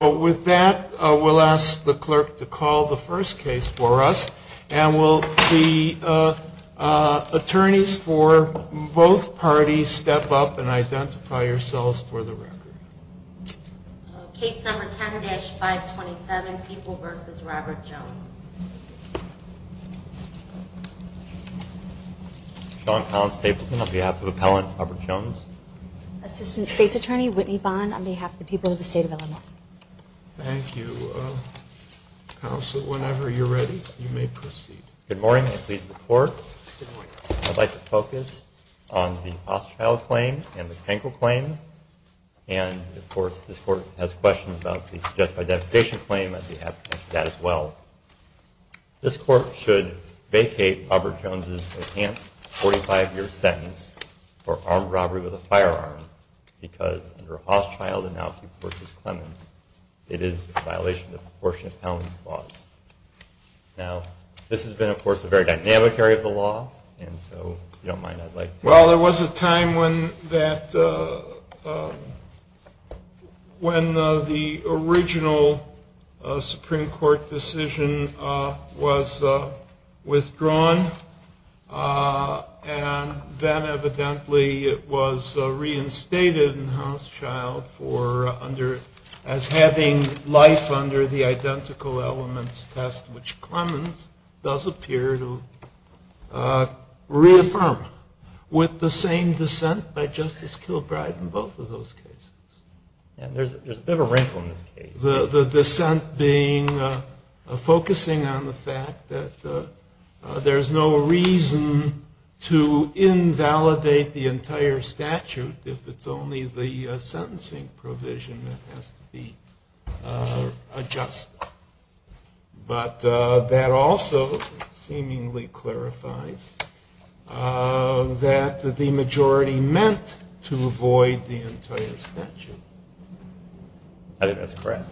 With that, we'll ask the clerk to call the first case for us, and will the attorneys for both parties step up and identify yourselves for the record. Case number 10-527, People v. Robert Jones. Shawn Collins-Stapleton on behalf of Appellant Robert Jones. Assistant State's Attorney Whitney Bond on behalf of the people of the state of Illinois. Thank you. Counsel, whenever you're ready, you may proceed. Good morning, and please, the court. I'd like to focus on the Ostfeld claim and the Krenkel claim. And, of course, this court has questions about the suggested identification claim. I'd be happy to answer that as well. This court should vacate Robert Jones's enhanced 45-year sentence for armed robbery with a firearm, because under Ostfeld v. Clemens, it is in violation of the proportionate penalty clause. Now, this has been, of course, a very dynamic area of the law, and so if you don't mind, I'd like to... was withdrawn, and then, evidently, it was reinstated in House Child as having life under the identical elements test, which Clemens does appear to reaffirm with the same dissent by Justice Kilbride in both of those cases. And there's a bit of a wrinkle in this case. The dissent being focusing on the fact that there's no reason to invalidate the entire statute if it's only the sentencing provision that has to be adjusted. But that also seemingly clarifies that the majority meant to avoid the entire statute. I think that's correct.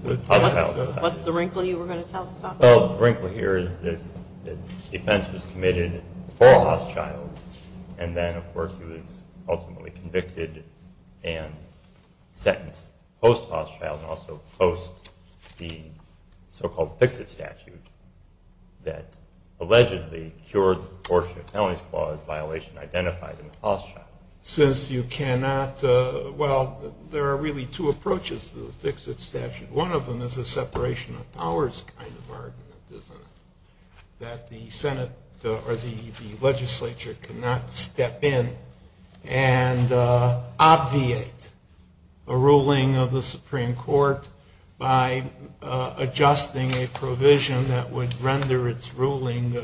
What's the wrinkle you were going to tell us about? Well, the wrinkle here is that the defense was committed before House Child, and then, of course, he was ultimately convicted and sentenced post-House Child and also post the so-called fix-it statute that allegedly cured the proportionate penalty clause violation identified in House Child. Since you cannot, well, there are really two approaches to the fix-it statute. One of them is a separation of powers kind of argument, isn't it, that the Senate or the legislature cannot step in and obviate a ruling of the Supreme Court by adjusting a provision that would render its ruling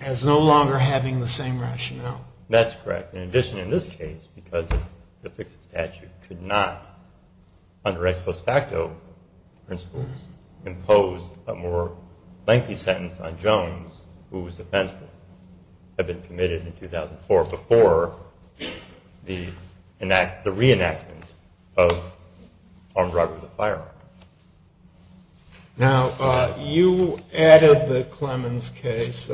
as no longer having the same rationale? That's correct. In addition, in this case, because the fix-it statute could not, under ex post facto principles, impose a more lengthy sentence on Jones, who was offensive, had been committed in 2004 before the reenactment of armed robbery of the firearm. Now, you added the Clemens case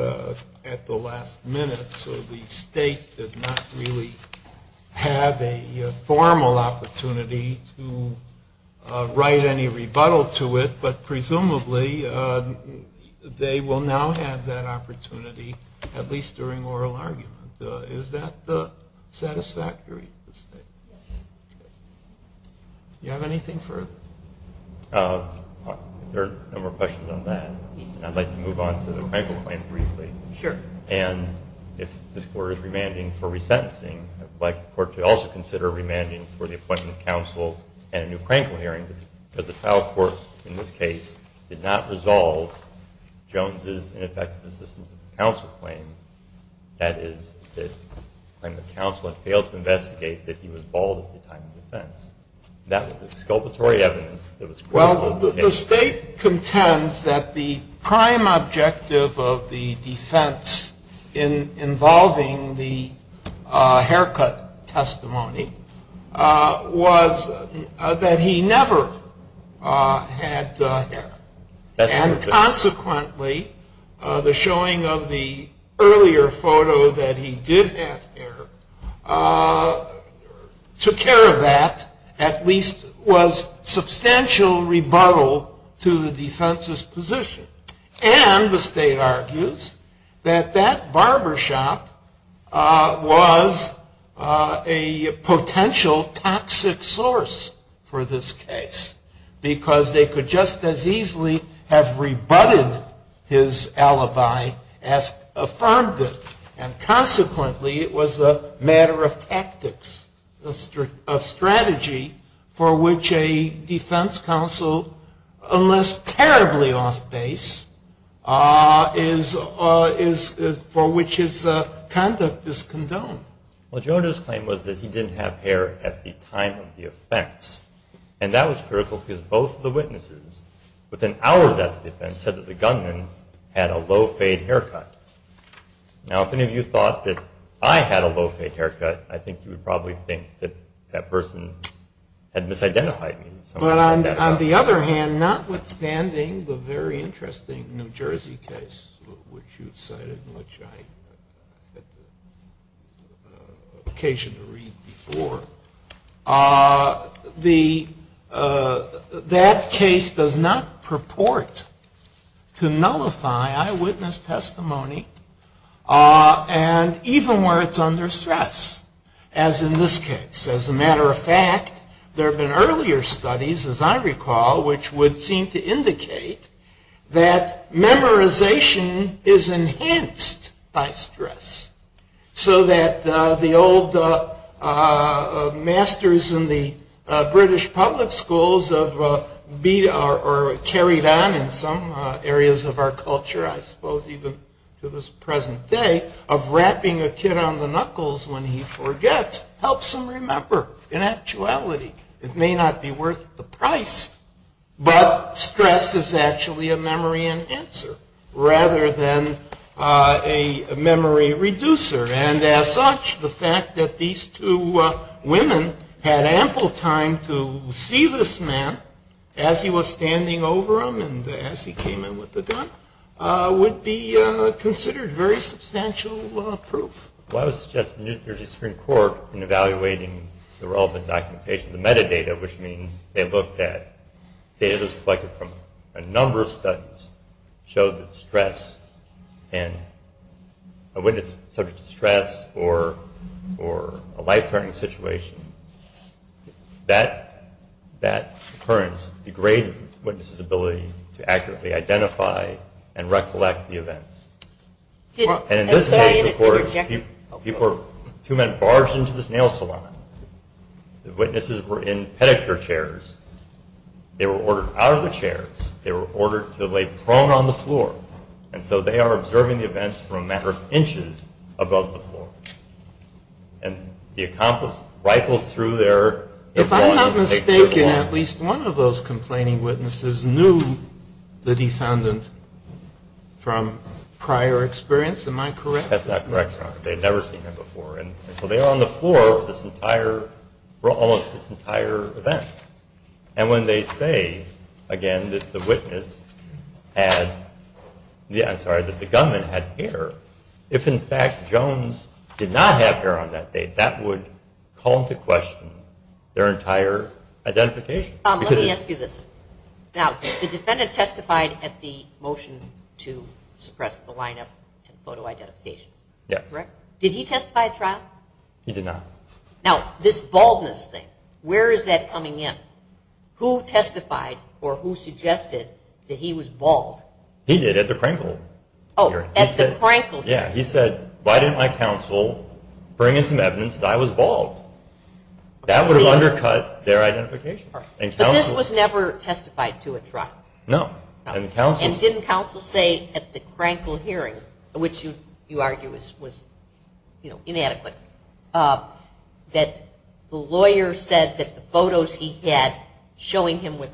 at the last minute, so the state did not really have a formal opportunity to write any rebuttal to it, but presumably they will now have that opportunity, at least during oral argument. Is that satisfactory to the state? Do you have anything further? If there are no more questions on that, I'd like to move on to the wrinkle claim briefly. Sure. And if this Court is remanding for resentencing, I'd like the Court to also consider remanding for the appointment of counsel and a new crankle hearing, because the trial court, in this case, did not resolve Jones's ineffective assistance of counsel claim. That is, the counsel had failed to investigate that he was bald at the time of defense. That was exculpatory evidence that was critical of the state. The state contends that the prime objective of the defense involving the haircut testimony was that he never had hair. And consequently, the showing of the earlier photo that he did have hair took care of that, at least was substantial rebuttal to the defense's position. And the state argues that that barbershop was a potential toxic source for this case, because they could just as easily have rebutted his alibi as affirmed it. And consequently, it was a matter of tactics, of strategy, for which a defense counsel, unless terribly off base, for which his conduct is condoned. Well, Jones's claim was that he didn't have hair at the time of the offense. And that was critical, because both of the witnesses, within hours after the defense, said that the gunman had a low-fade haircut. Now, if any of you thought that I had a low-fade haircut, I think you would probably think that that person had misidentified me. But on the other hand, notwithstanding the very interesting New Jersey case, which you've cited and which I had the occasion to read before, that case does not purport to nullify eyewitness testimony, and even where it's under stress, as in this case. As a matter of fact, there have been earlier studies, as I recall, which would seem to indicate that memorization is enhanced by stress, so that the old masters in the British public schools have carried on in some areas of our culture, I suppose even to this present day, of wrapping a kid on the knuckles when he forgets, helps him remember in actuality. It may not be worth the price, but stress is actually a memory enhancer, rather than a memory reducer. And as such, the fact that these two women had ample time to see this man as he was standing over them and as he came in with the gun, would be considered very substantial proof. Well, I would suggest the New Jersey Supreme Court, in evaluating the relevant documentation, the metadata, which means they looked at data that was collected from a number of studies, showed that stress, and a witness subject to stress or a life threatening situation, that occurrence degrades the witness's ability to accurately identify and recollect the events. And in this case, of course, two men barged into this nail salon. The witnesses were in pedicure chairs. They were ordered out of the chairs. They were ordered to lay prone on the floor. And so they are observing the events from a matter of inches above the floor. And the accomplice rifles through their- If I'm not mistaken, at least one of those complaining witnesses knew the defendant from prior experience, am I correct? That's not correct, Your Honor. They had never seen him before. And so they are on the floor of this entire, almost this entire event. And when they say, again, that the witness had-I'm sorry, that the gunman had hair, if in fact Jones did not have hair on that day, that would call into question their entire identification. Tom, let me ask you this. Now, the defendant testified at the motion to suppress the lineup and photo identification. Yes. Correct? Did he testify at trial? He did not. Now, this baldness thing, where is that coming in? Who testified or who suggested that he was bald? He did at the Krenkel hearing. Oh, at the Krenkel hearing. Yeah. He said, why didn't my counsel bring in some evidence that I was bald? That would have undercut their identification. But this was never testified to at trial? No. And didn't counsel say at the Krenkel hearing, which you argue was, you know, inadequate, that the lawyer said that the photos he had showing him with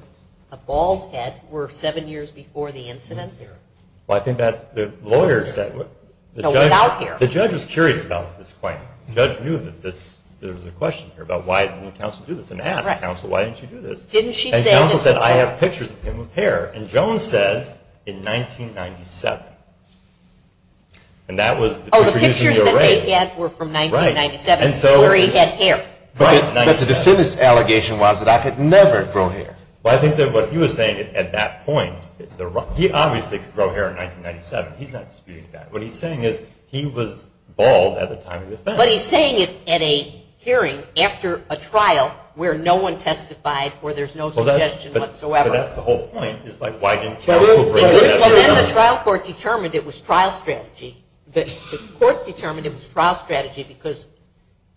a bald head were seven years before the incident? Well, I think that's-the lawyer said- No, without hair. The judge was curious about this claim. The judge knew that there was a question here about why didn't counsel do this and asked counsel, why didn't you do this? And counsel said, I have pictures of him with hair. And Jones says, in 1997. And that was the picture using the array. The photos he had were from 1997, where he had hair. But the defense allegation was that I could never grow hair. Well, I think that what he was saying at that point-he obviously could grow hair in 1997. He's not disputing that. What he's saying is he was bald at the time of the offense. But he's saying it at a hearing after a trial where no one testified or there's no suggestion whatsoever. But that's the whole point is, like, why didn't counsel bring it up? Well, then the trial court determined it was trial strategy. But the court determined it was trial strategy because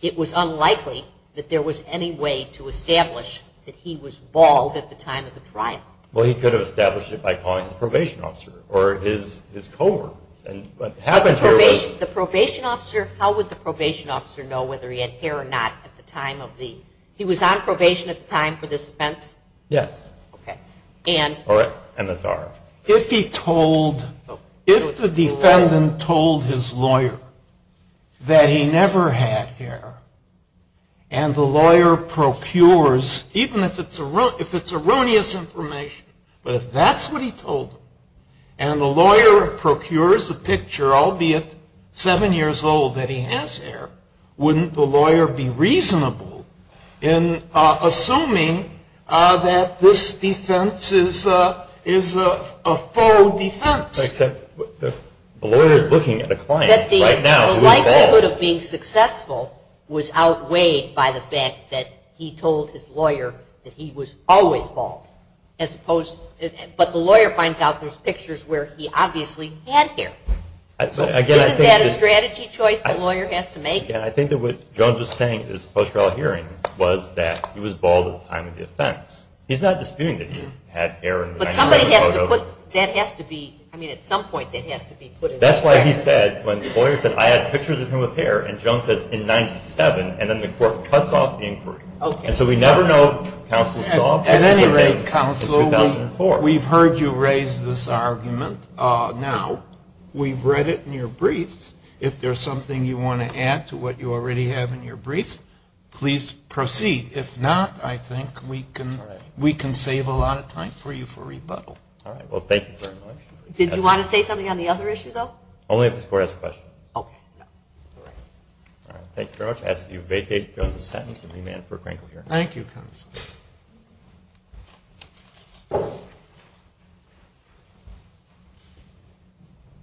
it was unlikely that there was any way to establish that he was bald at the time of the trial. Well, he could have established it by calling his probation officer or his coworkers. And what happened here was- But the probation officer-how would the probation officer know whether he had hair or not at the time of the- he was on probation at the time for this offense? Yes. Okay. And- If he told-if the defendant told his lawyer that he never had hair and the lawyer procures, even if it's erroneous information, but if that's what he told him, and the lawyer procures a picture, albeit seven years old, that he has hair, wouldn't the lawyer be reasonable in assuming that this defense is a faux defense? Except the lawyer is looking at a client right now who is bald. The likelihood of being successful was outweighed by the fact that he told his lawyer that he was always bald, as opposed-but the lawyer finds out there's pictures where he obviously had hair. Isn't that a strategy choice the lawyer has to make? Yeah. I think that what Jones was saying at his post-trial hearing was that he was bald at the time of the offense. He's not disputing that he had hair- But somebody has to put-that has to be-I mean, at some point, that has to be put- That's why he said, when the lawyer said, I had pictures of him with hair, and Jones says, in 97, and then the court cuts off the inquiry. Okay. And so we never know if counsel saw- At any rate, counsel, we've heard you raise this argument. Now, we've read it in your briefs. If there's something you want to add to what you already have in your briefs, please proceed. If not, I think we can save a lot of time for you for rebuttal. All right. Well, thank you very much. Did you want to say something on the other issue, though? Only if this court asks a question. Okay. All right. Thank you very much. I ask that you vacate Jones's sentence and remand it for a crinkle hearing. Thank you, counsel.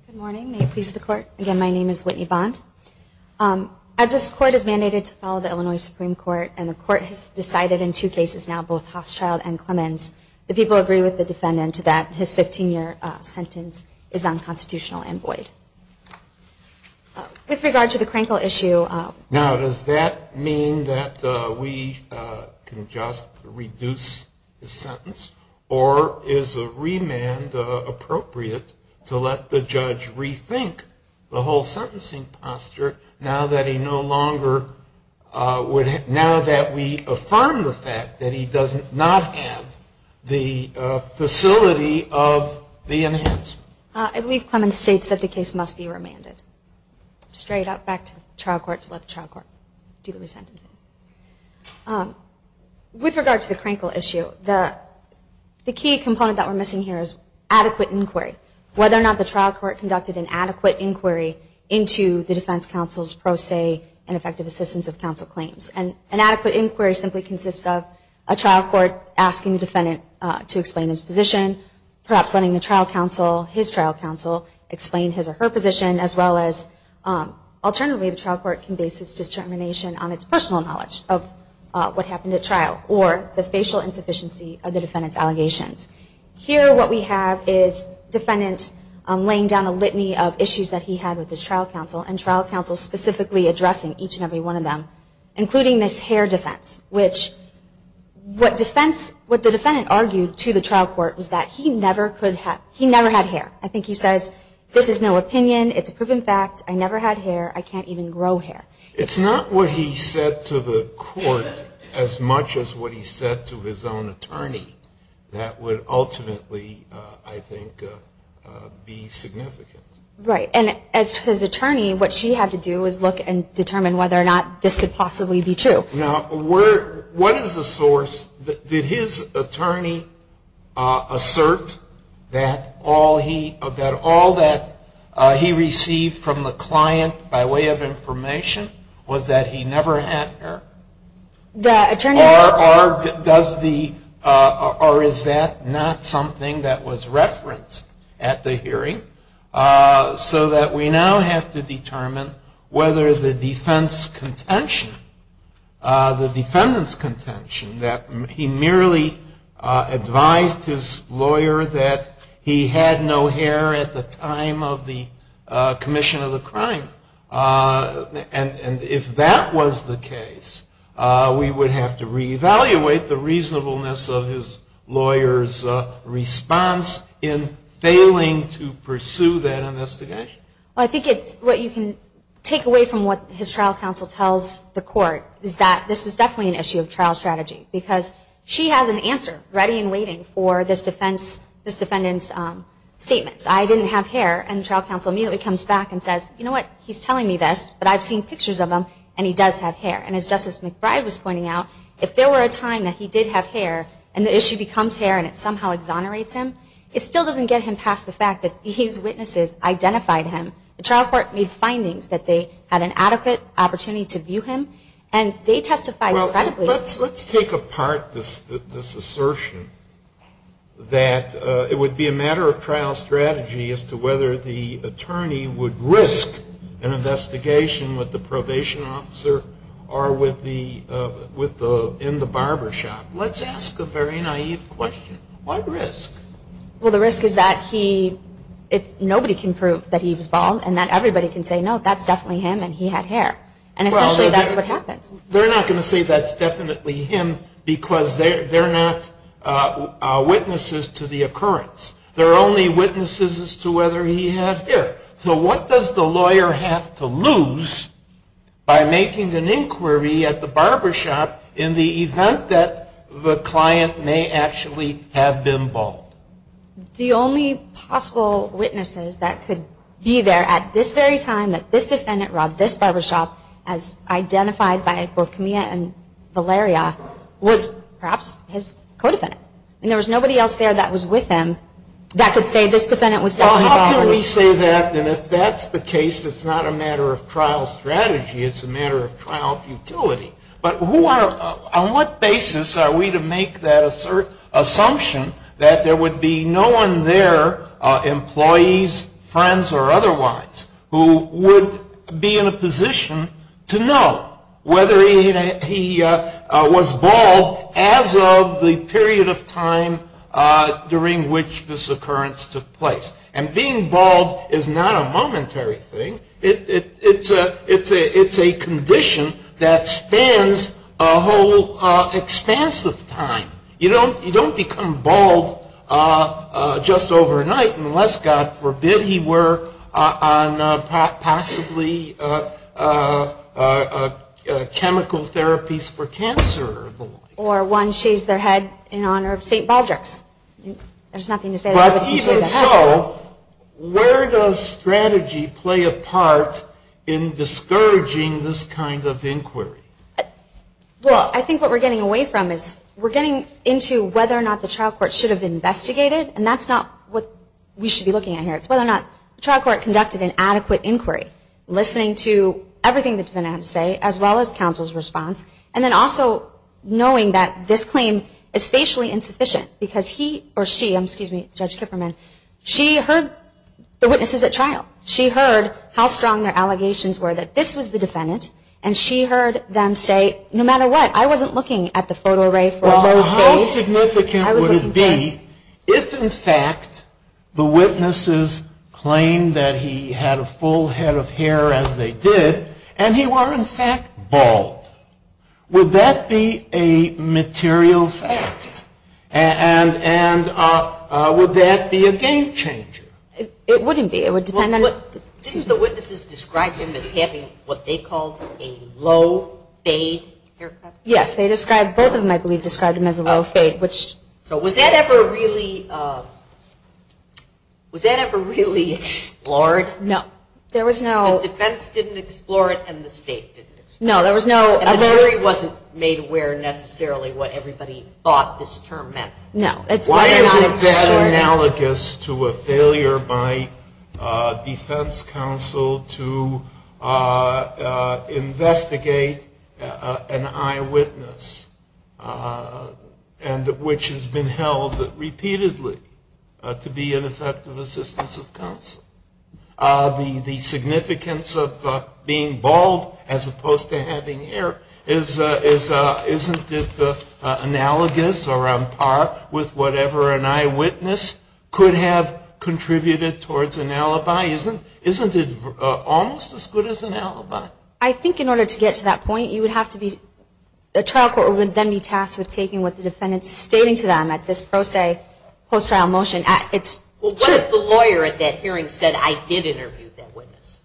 Good morning. May it please the court. Again, my name is Whitney Bond. As this court has mandated to follow the Illinois Supreme Court, and the court has decided in two cases now, both Hochschild and Clemens, the people agree with the defendant that his 15-year sentence is unconstitutional and void. With regard to the crinkle issue- Now, does that mean that we can just reduce the sentence, or is a remand appropriate to let the judge rethink the whole sentencing posture, now that we affirm the fact that he does not have the facility of the enhanced? I believe Clemens states that the case must be remanded. Straight up back to the trial court to let the trial court do the resentencing. With regard to the crinkle issue, the key component that we're missing here is adequate inquiry, whether or not the trial court conducted an adequate inquiry into the defense counsel's pro se and effective assistance of counsel claims. An adequate inquiry simply consists of a trial court asking the defendant to explain his position, perhaps letting the trial counsel, his trial counsel, explain his or her position, as well as alternatively the trial court can base its determination on its personal knowledge of what happened at trial or the facial insufficiency of the defendant's allegations. Here what we have is defendant laying down a litany of issues that he had with his trial counsel and trial counsel specifically addressing each and every one of them, including this hair defense, which what the defendant argued to the trial court was that he never had hair. I think he says this is no opinion. It's a proven fact. I never had hair. I can't even grow hair. It's not what he said to the court as much as what he said to his own attorney that would ultimately, I think, be significant. Right. And as his attorney, what she had to do was look and determine whether or not this could possibly be true. Now, what is the source? Did his attorney assert that all that he received from the client by way of information was that he never had hair? The attorney asserted that. Or is that not something that was referenced at the hearing so that we now have to determine whether the defense contention, the defendant's contention, that he merely advised his lawyer that he had no hair at the time of the commission of the crime. And if that was the case, we would have to reevaluate the reasonableness of his lawyer's response in failing to pursue that investigation. Well, I think it's what you can take away from what his trial counsel tells the court, is that this is definitely an issue of trial strategy. Because she has an answer ready and waiting for this defendant's statements. I didn't have hair. And the trial counsel immediately comes back and says, you know what, he's telling me this, but I've seen pictures of him and he does have hair. And as Justice McBride was pointing out, if there were a time that he did have hair and the issue becomes hair and it somehow exonerates him, it still doesn't get him past the fact that these witnesses identified him. The trial court made findings that they had an adequate opportunity to view him, and they testified credibly. Well, let's take apart this assertion that it would be a matter of trial strategy as to whether the attorney would risk an investigation with the probation officer or in the barber shop. Let's ask a very naive question. What risk? Well, the risk is that nobody can prove that he was bald and that everybody can say, no, that's definitely him and he had hair. And essentially that's what happens. They're not going to say that's definitely him because they're not witnesses to the occurrence. They're only witnesses as to whether he had hair. So what does the lawyer have to lose by making an inquiry at the barber shop in the event that the client may actually have been bald? The only possible witnesses that could be there at this very time that this defendant robbed this barber shop as identified by both Camilla and Valeria was perhaps his co-defendant. I mean, there was nobody else there that was with him that could say this defendant was definitely bald. Well, how can we say that? And if that's the case, it's not a matter of trial strategy. It's a matter of trial futility. But on what basis are we to make that assumption that there would be no one there, employees, friends or otherwise, who would be in a position to know whether he was bald as of the period of time during which this occurrence took place? And being bald is not a momentary thing. It's a condition that spans a whole expanse of time. You don't become bald just overnight unless, God forbid, he were on possibly chemical therapies for cancer. Or one shaved their head in honor of St. Baldrick's. There's nothing to say about it. So where does strategy play a part in discouraging this kind of inquiry? Well, I think what we're getting away from is we're getting into whether or not the trial court should have investigated. And that's not what we should be looking at here. It's whether or not the trial court conducted an adequate inquiry, listening to everything the defendant had to say as well as counsel's response, and then also knowing that this claim is facially insufficient because he or she, excuse me, Judge Kipperman, she heard the witnesses at trial. She heard how strong their allegations were that this was the defendant. And she heard them say, no matter what, I wasn't looking at the photo array for those days. How significant would it be if, in fact, the witnesses claimed that he had a full head of hair as they did and he were, in fact, bald? Would that be a material fact? And would that be a game changer? It wouldn't be. It would depend on the witnesses. Didn't the witnesses describe him as having what they called a low fade haircut? Yes. They described, both of them, I believe, described him as a low fade, which. So was that ever really explored? No. There was no. The defense didn't explore it and the state didn't explore it. No, there was no. And the jury wasn't made aware necessarily what everybody thought this term meant. No. Why is it analogous to a failure by defense counsel to investigate an eyewitness, which has been held repeatedly to be an effective assistance of counsel? The significance of being bald as opposed to having hair, isn't it analogous or on par with whatever an eyewitness could have contributed towards an alibi? Isn't it almost as good as an alibi? I think in order to get to that point, you would have to be... The trial court would then be tasked with taking what the defendant is stating to them at this pro se post-trial motion. Well, what if the lawyer at that hearing said, I did interview that witness?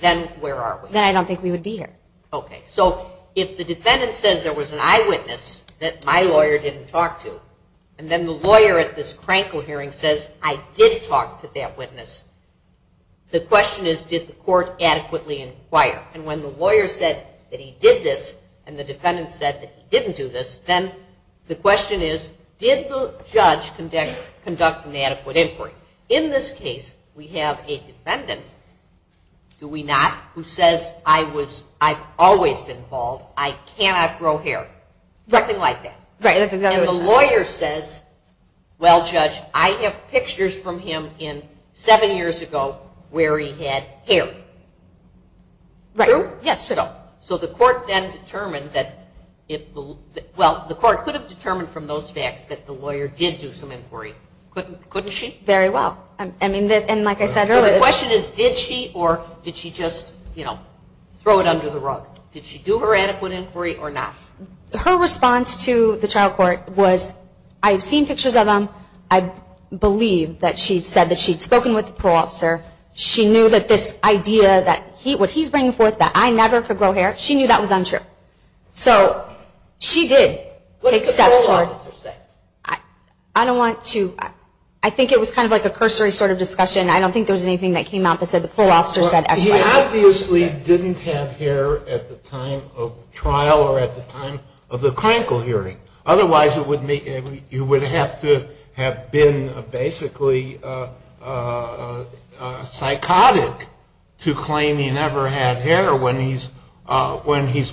Then where are we? Then I don't think we would be here. Okay. So if the defendant says there was an eyewitness that my lawyer didn't talk to, and then the lawyer at this crankle hearing says, I did talk to that witness, the question is, did the court adequately inquire? And when the lawyer said that he did this and the defendant said that he didn't do this, then the question is, did the judge conduct an adequate inquiry? In this case, we have a defendant, do we not, who says, I've always been bald. I cannot grow hair. Something like that. Right. And the lawyer says, well, Judge, I have pictures from him seven years ago where he had hair. Right. True? Yes. So the court then determined that, well, the court could have determined from those facts that the lawyer did do some inquiry. Couldn't she? Very well. I mean, and like I said earlier. The question is, did she or did she just, you know, throw it under the rug? Did she do her adequate inquiry or not? Her response to the trial court was, I've seen pictures of him. I believe that she said that she'd spoken with the parole officer. She knew that this idea that what he's bringing forth, that I never could grow hair, she knew that was untrue. So she did take steps forward. What did the parole officer say? I don't want to. I think it was kind of like a cursory sort of discussion. I don't think there was anything that came out that said the parole officer said X, Y, or Z. He obviously didn't have hair at the time of trial or at the time of the clinical hearing. Otherwise, you would have to have been basically psychotic to claim he never had hair when he's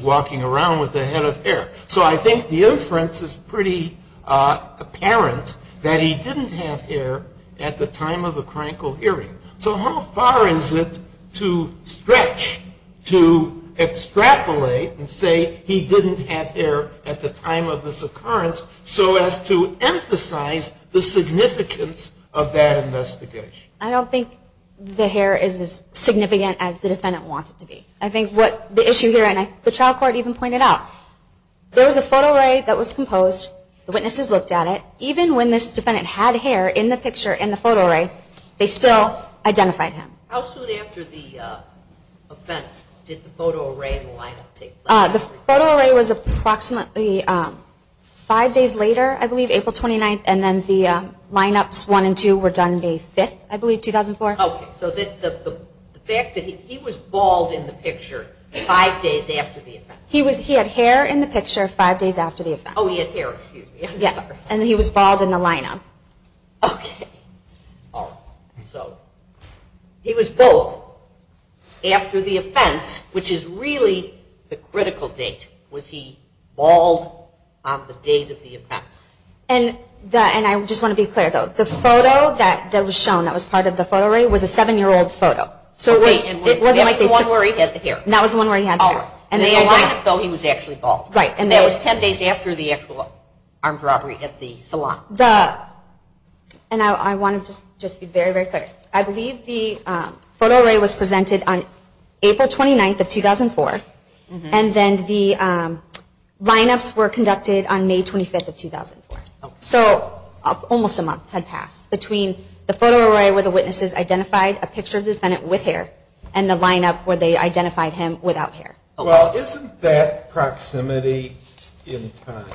walking around with a head of hair. So I think the inference is pretty apparent that he didn't have hair at the time of the clinical hearing. So how far is it to stretch, to extrapolate and say he didn't have hair at the time of the psychotic hearing? So as to emphasize the significance of that investigation. I don't think the hair is as significant as the defendant wants it to be. I think what the issue here, and the trial court even pointed out, there was a photo array that was composed. The witnesses looked at it. Even when this defendant had hair in the picture in the photo array, they still identified him. How soon after the offense did the photo array line up take place? The photo array was approximately five days later, I believe, April 29th. And then the lineups one and two were done May 5th, I believe, 2004. So the fact that he was bald in the picture five days after the offense. He had hair in the picture five days after the offense. Oh, he had hair, excuse me. And he was bald in the lineup. Okay. All right. So he was bald after the offense, which is really the critical date. Was he bald on the date of the offense? And I just want to be clear, though. The photo that was shown that was part of the photo array was a seven-year-old photo. Oh, wait, and that was the one where he had the hair? That was the one where he had the hair. In the lineup, though, he was actually bald. Right, and that was ten days after the actual armed robbery at the salon. And I want to just be very, very clear. I believe the photo array was presented on April 29th of 2004, and then the lineups were conducted on May 25th of 2004. So almost a month had passed between the photo array where the witnesses identified a picture of the defendant with hair and the lineup where they identified him without hair. Well, isn't that proximity in time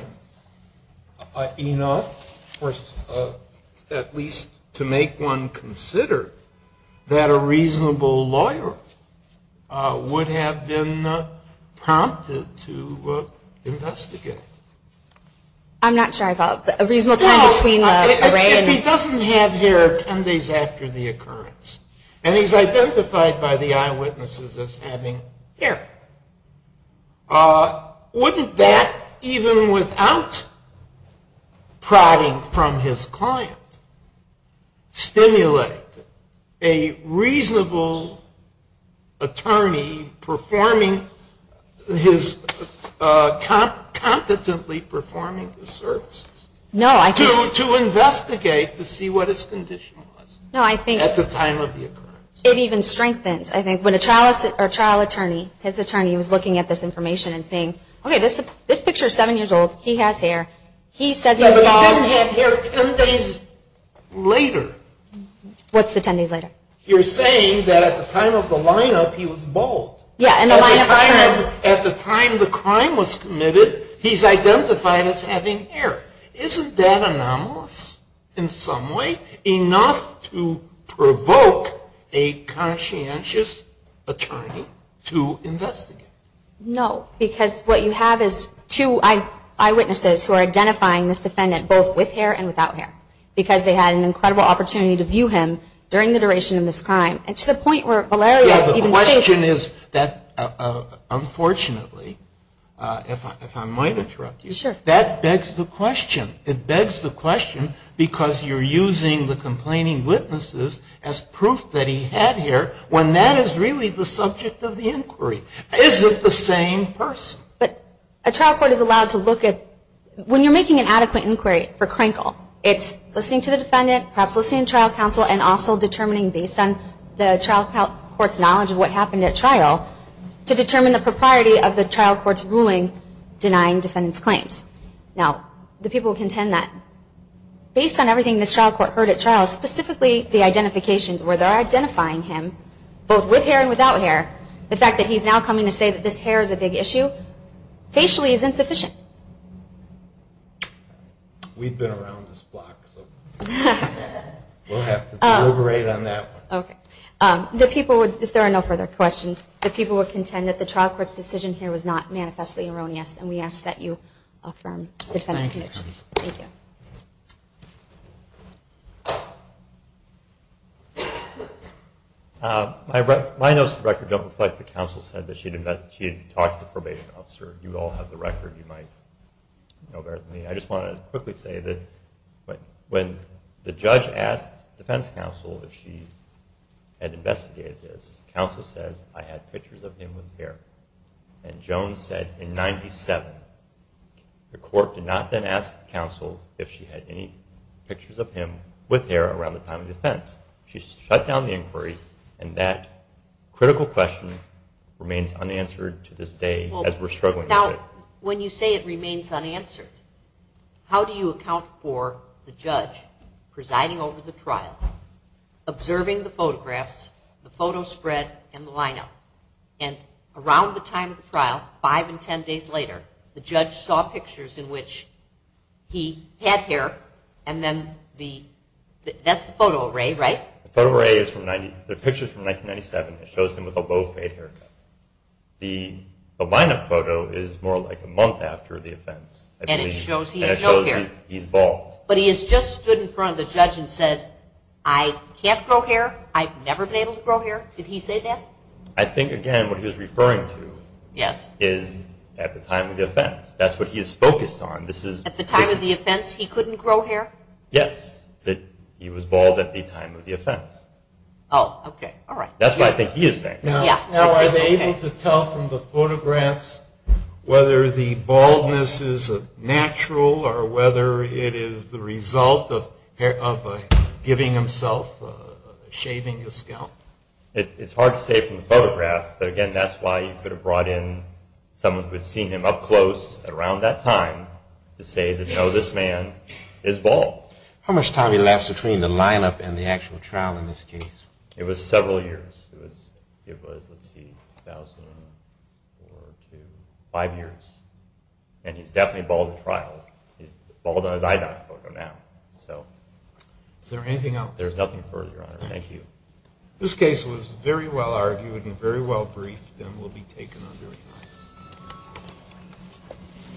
enough, at least to make one consider, that a reasonable lawyer would have been prompted to investigate? I'm not sure I thought. A reasonable time between the array and... Well, if he doesn't have hair ten days after the occurrence, and he's identified by the eyewitnesses as having hair, wouldn't that, even without prodding from his client, stimulate a reasonable attorney competently performing his services? No, I think... To investigate to see what his condition was... No, I think... At the time of the occurrence. It even strengthens. I think when a trial attorney, his attorney was looking at this information and saying, okay, this picture is seven years old. He has hair. He says he was bald... But he didn't have hair ten days later. What's the ten days later? You're saying that at the time of the lineup, he was bald. Yeah, and the lineup... At the time the crime was committed, he's identified as having hair. Isn't that anomalous in some way? Enough to provoke a conscientious attorney to investigate. No, because what you have is two eyewitnesses who are identifying this defendant both with hair and without hair, because they had an incredible opportunity to view him during the duration of this crime, and to the point where Valerio... Yeah, the question is that, unfortunately, if I might interrupt you, that begs the question. It begs the question because you're using the complaining witnesses as proof that he had hair when that is really the subject of the inquiry. Is it the same person? But a trial court is allowed to look at... When you're making an adequate inquiry for Crankle, it's listening to the defendant, perhaps listening to trial counsel, to determine the propriety of the trial court's ruling denying defendant's claims. Now, the people contend that based on everything this trial court heard at trial, specifically the identifications where they're identifying him, both with hair and without hair, the fact that he's now coming to say that this hair is a big issue, facially is insufficient. We've been around this block, so we'll have to deliberate on that one. Okay. The people would... If there are no further questions, the people would contend that the trial court's decision here was not manifestly erroneous, and we ask that you affirm the defendant's conditions. Thank you. My notes of record don't reflect the counsel said that she had talked to the probation officer. You all have the record. You might know better than me. I just want to quickly say that when the judge asked defense counsel if she had investigated this, counsel says, I had pictures of him with hair. And Jones said in 97, the court did not then ask counsel if she had any pictures of him with hair around the time of defense. She shut down the inquiry, and that critical question remains unanswered to this day as we're struggling with it. But when you say it remains unanswered, how do you account for the judge presiding over the trial, observing the photographs, the photo spread, and the lineup? And around the time of the trial, 5 and 10 days later, the judge saw pictures in which he had hair, and then the... That's the photo array, right? The photo array is from 90... They're pictures from 1997. It shows him with a low-fade haircut. The lineup photo is more like a month after the offense. And it shows he has no hair. And it shows he's bald. But he has just stood in front of the judge and said, I can't grow hair. I've never been able to grow hair. Did he say that? I think, again, what he was referring to is at the time of the offense. That's what he is focused on. At the time of the offense, he couldn't grow hair? Yes. He was bald at the time of the offense. Oh, okay. All right. That's what I think he is saying. Now, are they able to tell from the photographs whether the baldness is natural or whether it is the result of giving himself, shaving his scalp? It's hard to say from the photograph. But, again, that's why you could have brought in someone who had seen him up close around that time to say that, no, this man is bald. How much time did it last between the lineup and the actual trial in this case? It was several years. It was, let's see, 2,004 or 2,005 years. And he's definitely bald in trial. He's bald on his eye dot photo now. Is there anything else? There's nothing further, Your Honor. Thank you. This case was very well argued and very well briefed and will be taken under a test.